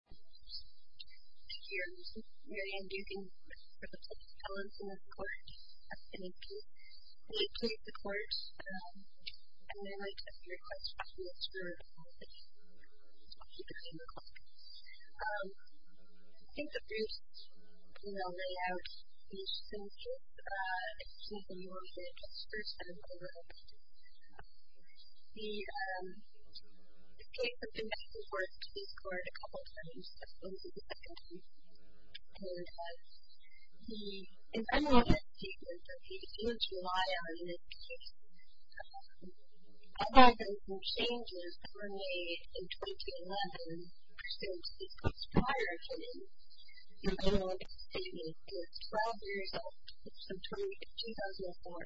Here, you can see Marianne Dukin for the public spelling for this course in AP. And they played the course, and then I got the request to actually explore the website. It's actually the same class. I think the first layout is simple. It's just a new one here. It's just first time development. The case of the missing words can be scored a couple times, but only the second time. And the environmental statement that you need to rely on is a lot of different changes that were made in 2011 pursuant to this class prior to the environmental statement. It's 12 years old. It's from 2004.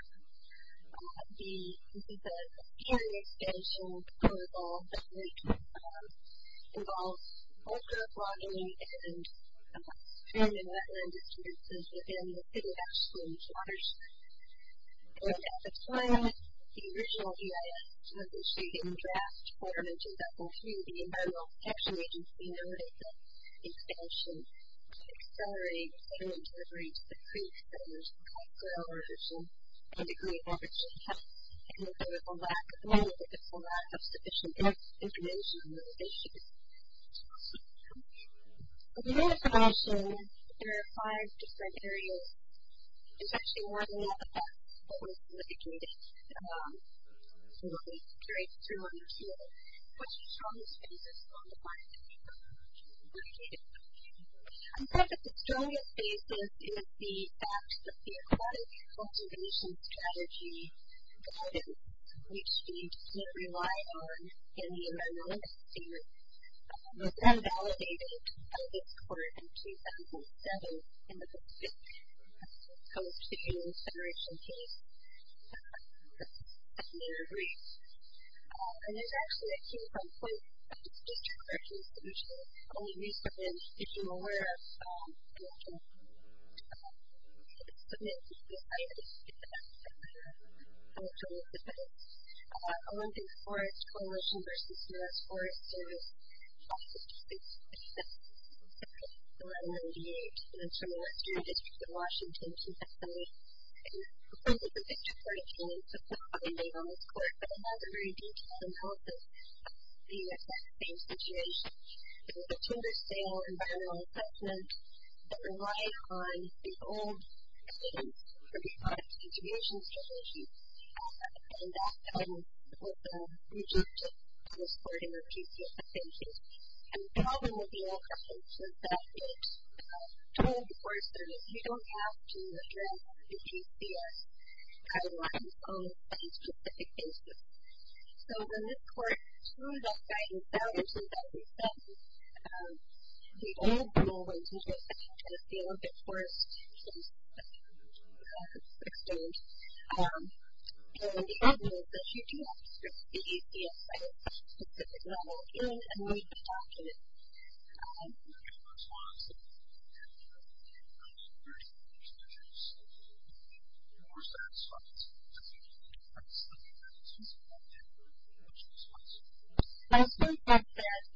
This is the Caring Expansion Protocol that involves vulgar blogging and spamming wetland experiences within the city of Ashland's waters. And at the time, the original EIS was issued in draft quarter of 2003. The Environmental Protection Agency noted that the expansion would accelerate the delivery to the creeks that emerged from the Great Barrier Reef, which had a significant lack of sufficient information and information. But you notice that I'll show you that there are five different areas. There's actually more than one, but that's what was indicated in what we carried through on this year. Questions exist on the final paper. OK. On part of the historical basis is the fact that the Aquatic Cultivation Strategy guidance, which you need to rely on in the environmental statement, was then validated by this court in 2007 in the Pacific Coast Regional Federation case at the Great Barrier Reef. And there's actually a key point of discussion that's usually only recent. If you're aware of, you can submit to the site if you get that. I'll show you the notes. One of these forest coalition versus U.S. Forest Service talks is just based on the NMDH. And it's from the Western District of Washington, TSA. And the point is that this report came specifically made on this court. But it has a very detailed analysis of the exact same situation. There was a tender sale environmental assessment that relied on the old NMDH 35 contribution strategy and that was rejected on this board in the PCS case. And the problem with the NMDH was that it told the Forest Service, you don't have to address the PCS guidelines on a specific basis. So when this court threw that guidance out in 2007, the old rule was that you just had to stay a little bit forest-based. And the problem is that you do have to address the PCS on a specific level in a NMDH document. I also think that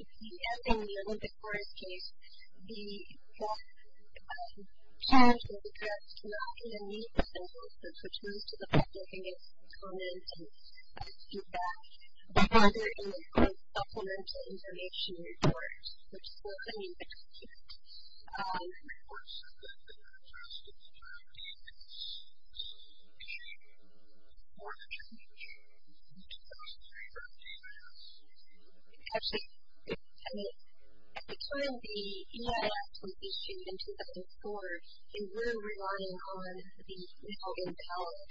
if you end up in the Olympic Forest case, the challenge will be that you're not going to meet the circumstances, which means to the public, I think it's common to do that. But rather, you're going to supplement the information in your court, which is what the NMDH did. The Forest Service did not address the NMDH in its decision for the transition in 2003 or 2004. Actually, at the time the EIS was issued in 2004, they were relying on the NMDH.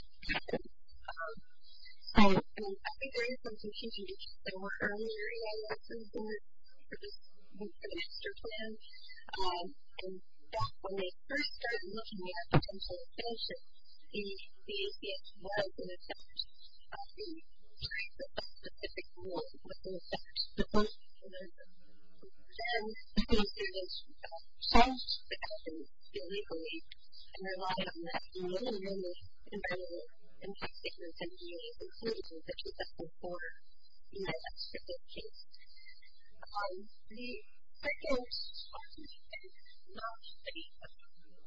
So I think there is some confusion because there were earlier EIS reports, but this was an extra plan. And when they first started looking at a potential relationship, the EIS was an attempt at the type of specific rule that they were supposed to work with. Then the Forest Service changed the guidance illegally and relied on that more and more in the NMDH, including the 2004 EIS specific case. The second, I think, is not the EIS rule.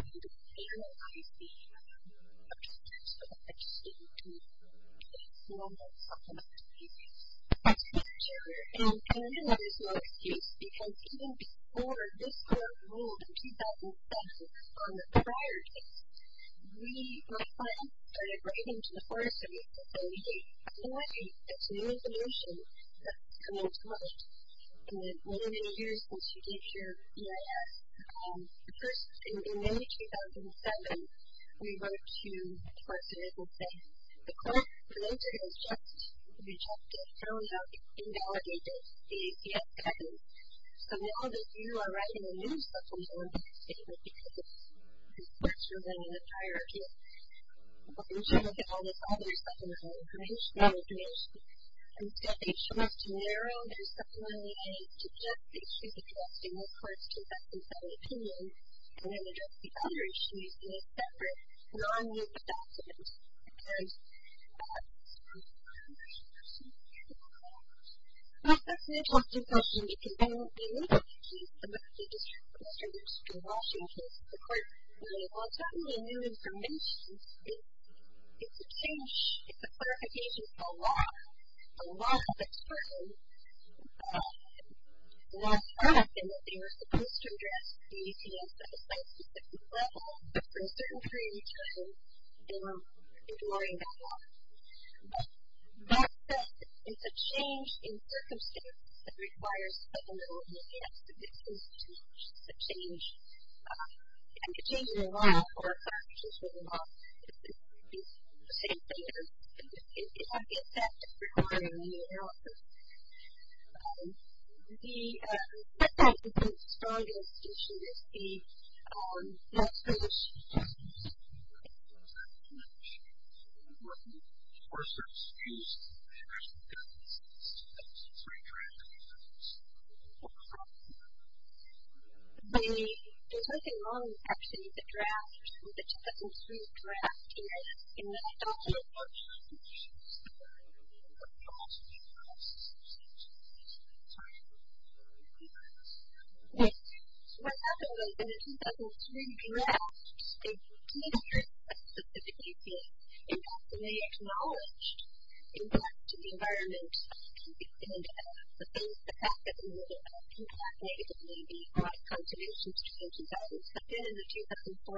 I think the EIS rule is the attempt of the NMDH to form a supplemental case. That's a good answer. And I know that is not the case because even before this court ruled in 2007 on the prior case, my client started writing to the Forest Service saying, hey, I know it's a new solution that's coming to us in the many, many years since you gave your EIS. In May 2007, we wrote to the Forest Service and said, the court has just rejected, thrown out, invalidated the EIS guidance. So now that you are writing a new supplemental case because the court's ruling on the prior case, we're trying to get all the receptionist information out of the NMDH. Instead, they show us to narrow the receptionist and suggest that she's addressing the court's 2007 opinion and then address the other issues in a separate, non-news document. And that's an interesting question because when we look at the case, when we look at Mr. Lipscomb-Washington's court ruling, well, it's not really new information. It's a change. It's a clarification for a law. A law that's certain. The law is certain that they were supposed to address the ETS at a site-specific level. But for a certain period of time, they were ignoring that law. But that said, it's a change in circumstance that requires supplemental ETS. So this is a change. And a change in a law or a fact is a law. It's the same thing as ETS. It's not the ETS. It's the court ruling. It's not the ETS. The, what I would say is the strongest issue is the loss of this. Yes. There's something wrong, actually, with the draft, with the 2003 draft. And I don't know if that's true. I don't know. What happened was in the 2003 draft, it did address a specific issue. In fact, it may have acknowledged in regards to the environment and the things, the fact that we live in a compact native Navy, a lot of conservations between 2007 and 2004,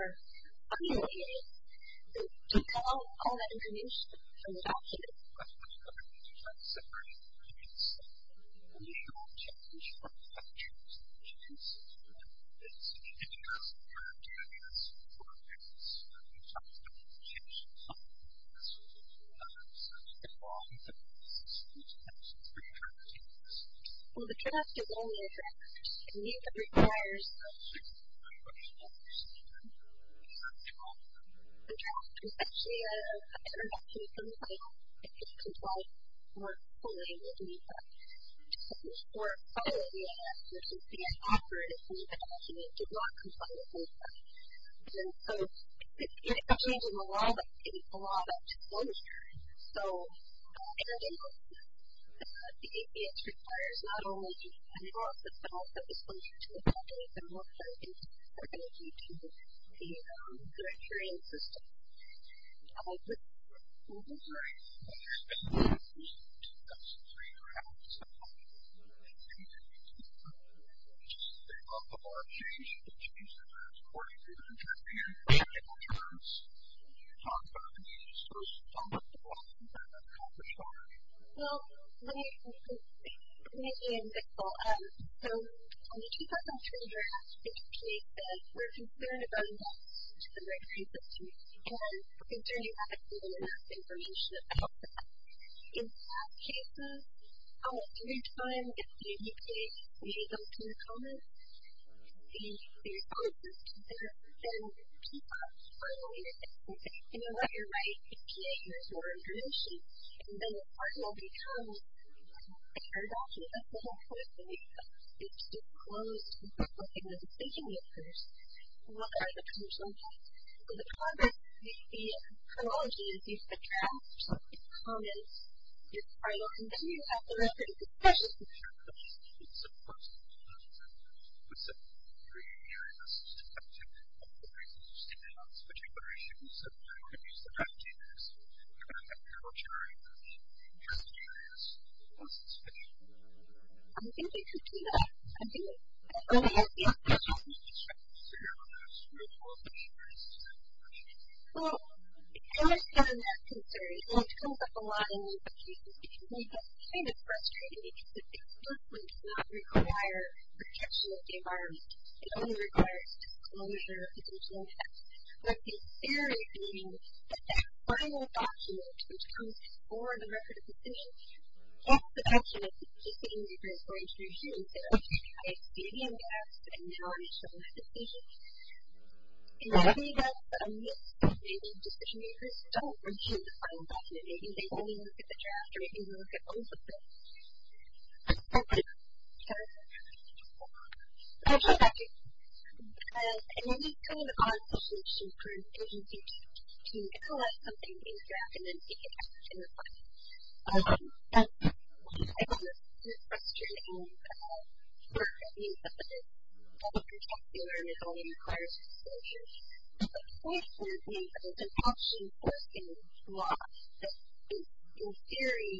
I mean, it took all that information from the document. Well, the draft is only a draft. I mean, it requires, the draft is actually a, I don't know if it's in the title, if it complies more fully with NEPA. I'm sure it probably is. You can see it's offered. It's in the document. It did not comply with NEPA. And so, it's changing a lot of things, a lot of disclosure. So, in addition, the APS requires not only to handle all of this, but also disclosure to the public and more clarity to the directorial system. In the 2003 draft, they brought the bar change, which means that there's 40 pages of information for technical terms. So, what's the process of that? How does it work? Well, let me explain. It's really invisible. So, in the 2003 draft, it states that we're concerned about a loss to the directory system and concerning that it's not enough information about that. In that case, almost every time it's the NEPA, they go to the comments, the responses to that, and keep on filing it. You know what? You're my APA. Here's your information. And then, the file becomes a shared document. That's the whole point of the NEPA. It's disclosed. It's not something that's taken yet first. So, what are the terms of use? So, the terms of use, the terminology is used in the draft. So, it's comments. It's filed. And then, you have the reference. It's precious information. So, what are the reasons for sticking on this particular issue? So, I don't want to abuse the time, but do you think there's some kind of regulatory interest in this? What's the situation? I think we could do that. I think it's an early idea. So, what do you expect to see out of this? Do you have more of an interest in it? Well, I understand that concern, and it comes up a lot in NEPA cases, because NEPA's kind of frustrating because it simply does not require protection of the environment. It only requires disclosure of the original text. But the theory being that that final document, which comes before the record of decision, that's the document that the decision makers are going to review and say, okay, I exceeded in depth, and now I show this decision. And I agree with that, but I'm curious if maybe decision makers don't review the final document. Maybe they only look at the draft, or maybe they look at both of them. Thank you. I'll jump back in. I mean, it's kind of an odd situation for an agency to collect something in the draft and then take it back and revise it. I don't know if this is a question for review, but it does not protect the environment. It only requires disclosure. But the point being that it's an action-forcing law that, in theory,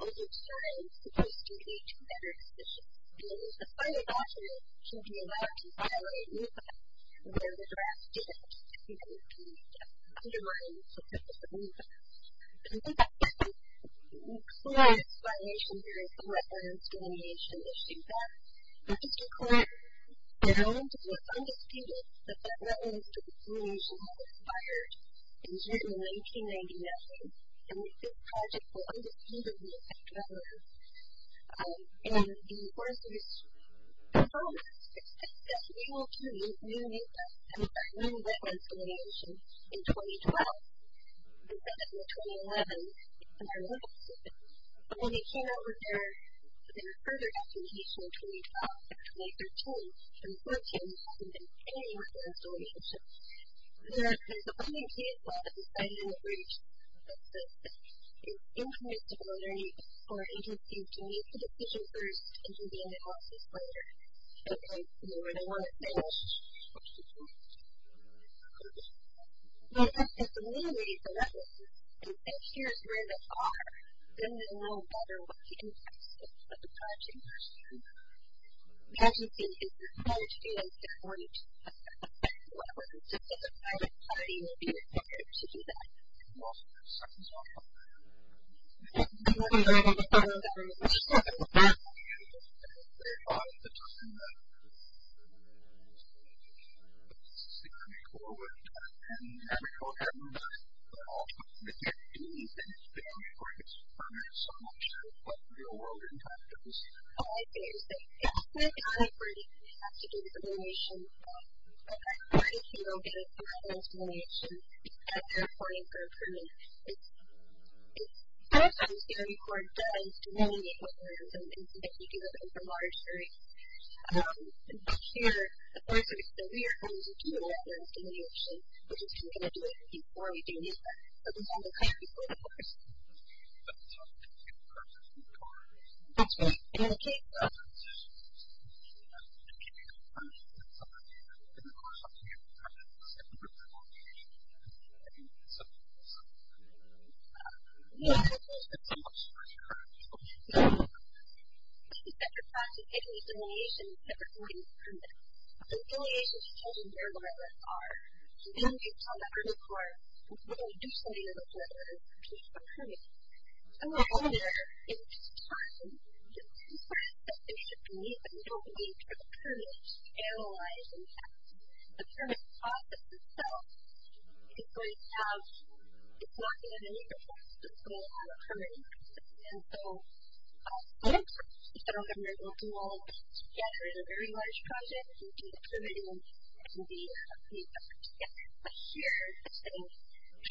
over time is supposed to lead to better decisions. And the final document should be allowed to violate NEPA where the draft didn't, and that would be to undermine the purpose of NEPA. I think that's an excellent explanation. There is some reference to animation that states that. But just a quick round of what's undisputed, that that reference to animation had expired in June of 1999, and that this project will undisputedly affect developers. And the enforcers promised that we will continue with new NEPA and with our new reference to animation in 2012. They said that in 2011, in our NEPA system. But when they came out with their further documentation in 2012, in 2013, 2014, there hasn't been any work in this relationship. There's a funding team that has decided in the briefs that it's incompatible for agencies to make a decision first and to be in the process later. So, you know, where they want to finish. But that's a new way for references. If here's where they are, then they'll know better what the impacts of the project are. As you see, if you're going to a different level, then the private party will be more prepared to do that. Seconds off. Okay. I'm going to stop it with that. I just want to say, I thought at the time that this was the critical work time, and I wish I would have known that. But also, I can't do anything to make sure it gets funded so much that it's what the real world impact is. Oh, I see what you're saying. Yeah. The private party has to do the simulation. The private party can only do the reference simulation if they're applying for a permit. It's sometimes, you know, before it does, you know, you get what you're going to do, but you do it in a larger space. But here, of course, we are going to do a reference simulation, which is going to do everything before we do that. But we don't know how to do it before. That's right. In the case of... Yeah, that's what I was going to say. The private party can do the simulation if they're applying for a permit. But the simulation is chosen where the references are. So, then we can tell that our report, that's what we're going to do studying those references, which is a permit. So, while we're in time, it's important that they should be, but we don't need, for the permit, to analyze and test. The permit process itself is going to have, it's not going to be meaningful to put it on a permit. And so, a lot of times, if they don't get a very good result, we will gather in a very large project and do the permitting and be happy about it. Yeah. But here, if they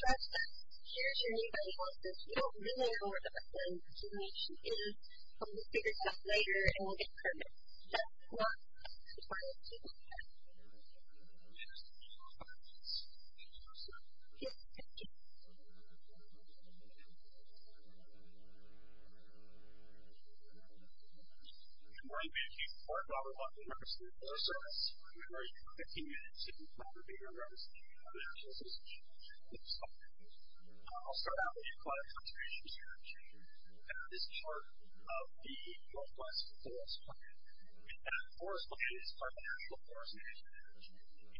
trust us, here's where anybody else is, we don't really know what the best way to do the simulation is. We'll figure it out later and we'll get a permit. That's what the private party does. Yes, thank you. Good morning. Thank you. I'm Robert Walton. I'm the person in charge of the service. I'm going to give you 15 minutes if you'd like to be in a room so you can have a chance to speak. Thanks. I'll start out with you, I'm the person in charge that is in charge of the northwest forest plan. And that forest plan is part of the National Forest Management Act.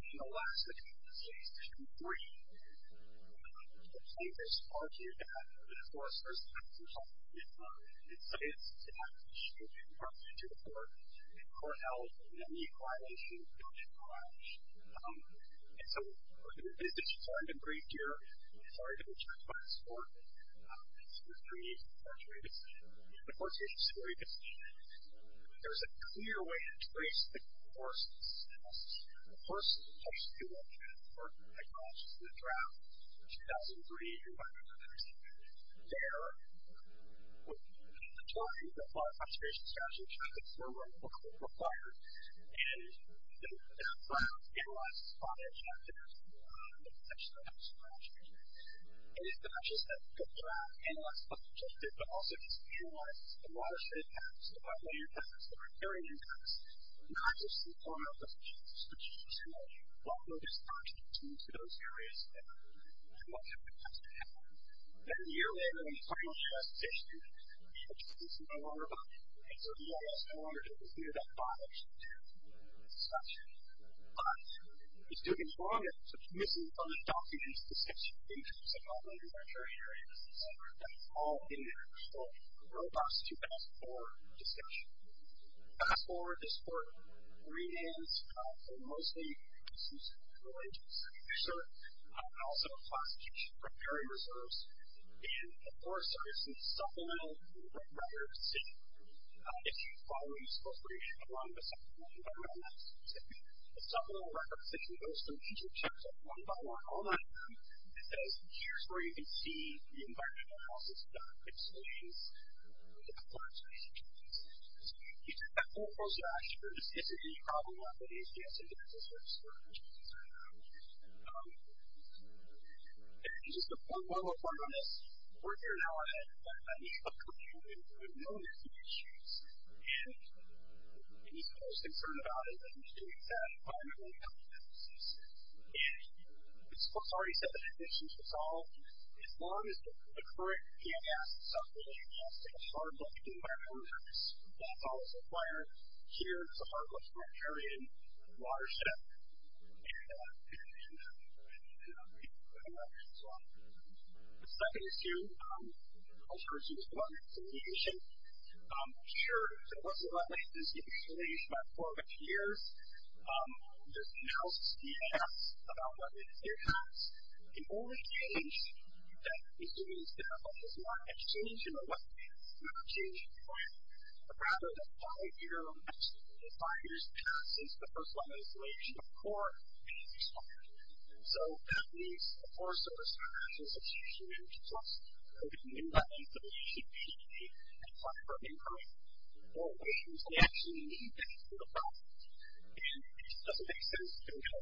In Alaska, it's Section 3. The plan does argue that foresters have to help with science, technology, environmental support, and core health in any violation of the National Forest Management Act. And so, we're going to do this as you've heard in the brief here. I'm sorry to interject, but it's important. In 2003, the forestry agency, the forestry agency where you can see me, there's a clear way to trace the course of this process. The person who actually did the work and the technology and the draft in 2003, who I don't know if you've ever seen it, there, with the authority of the Forest Conservation Strategy, tried to furlough what was required. And, the plan analyzes all the objectives of the section of the forestry agency. And, it's not just that the plan analyzes all the objectives, but also just analyzes the watershed impacts, the wetland impacts, the riparian impacts, not just the format of the projects, but, you know, what were those projects and to those areas and, you know, what kind of impacts they had. Then, a year later, when the final draft is issued, the agency is no longer bothered. And, so, the agency is no longer going to hear that bothered section. But, it's taking longer to commission documents, discussions, intros, and all the introductory areas that fall in the actual robust two-past-four discussion. Past-four is for greenhands for mostly issues related to agriculture. Also, classification of riparian reserves. And, of course, there is some supplemental records issued following appropriation along with supplemental environmental records that you go through each of the chapters one-by-one all the time. It says, here's where you can see the environmental health issues. You take that full brochure and this is the problem that the agency has to address. And this is agency has to address. And just one more point on this. We're here an hour ahead, but we still have millions of issues, and we're most concerned about environmental health issues and environmental health issues. The second issue I'll turn to is climate mitigation. I'm sure that most of us have experienced climate mitigation for over two years. There's analysis about what it has. The only change that we see is not a change in the weather, not a change in climate, but rather that five years past since the first level of insolation before it expired. So that means the Forest Service International and the National Institute of Human Resources have been doing that insolation for a quarter of a year. Four years. They actually need that for the process. And it doesn't make sense to tell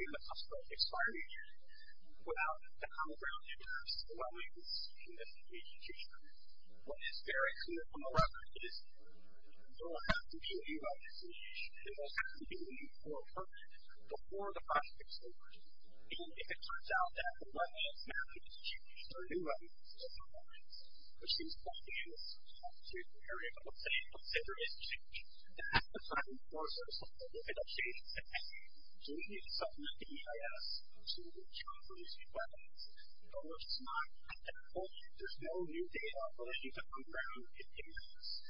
you the cost of expiring without the common ground interests and willingness in this institution. What is very clear from the record is there will have to be a new level of insolation. There will have to be new level of insolation. There is no new data on the ground interests as far as that's concerned. There are three other issues that are up on the street. The total mass of the new population over three years, the population over the next three years, the total mass of the population over the next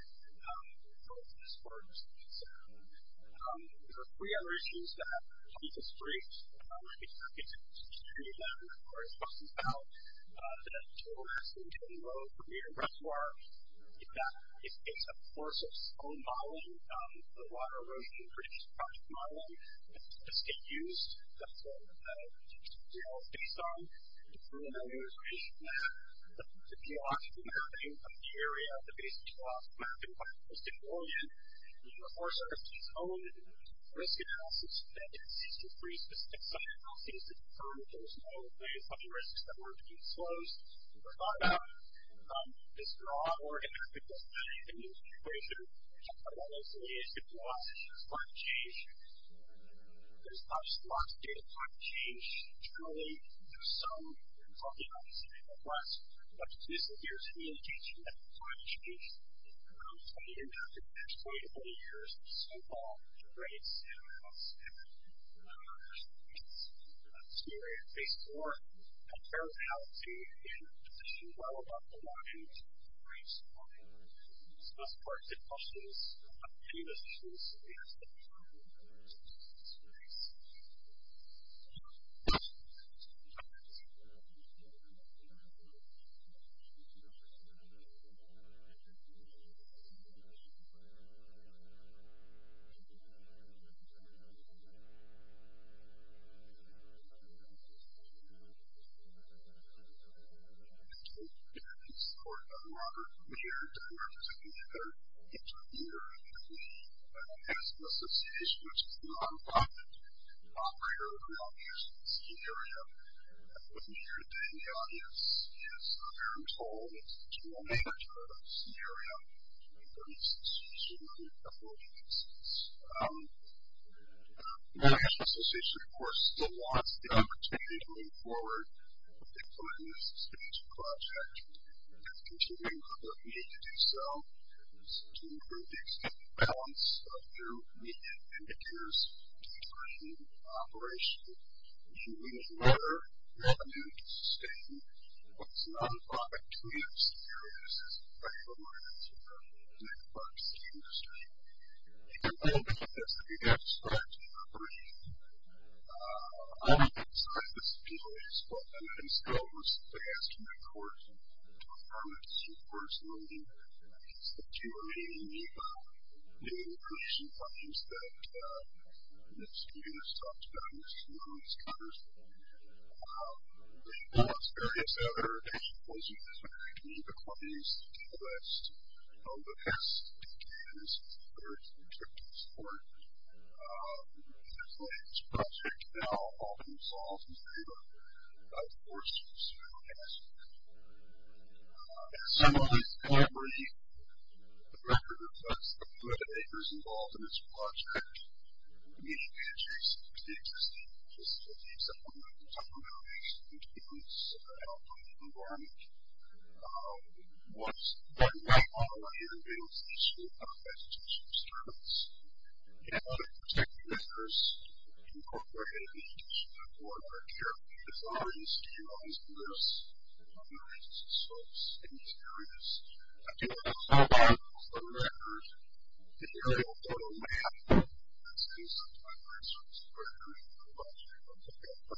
three years. The total mass of population over the next out of the oldest population in the family. The oldest population in the family. If your value is more than $1,000,000, you have a separate information and there's no explanation why all the information has to be provided to them. They don't even have to go out and look to find out if it should be sent them, I think,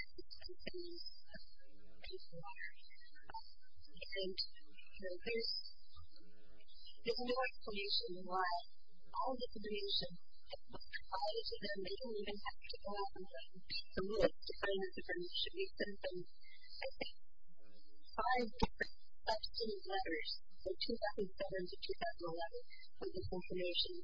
five different obscene letters from 2007 to 2011 with this information. Thank you.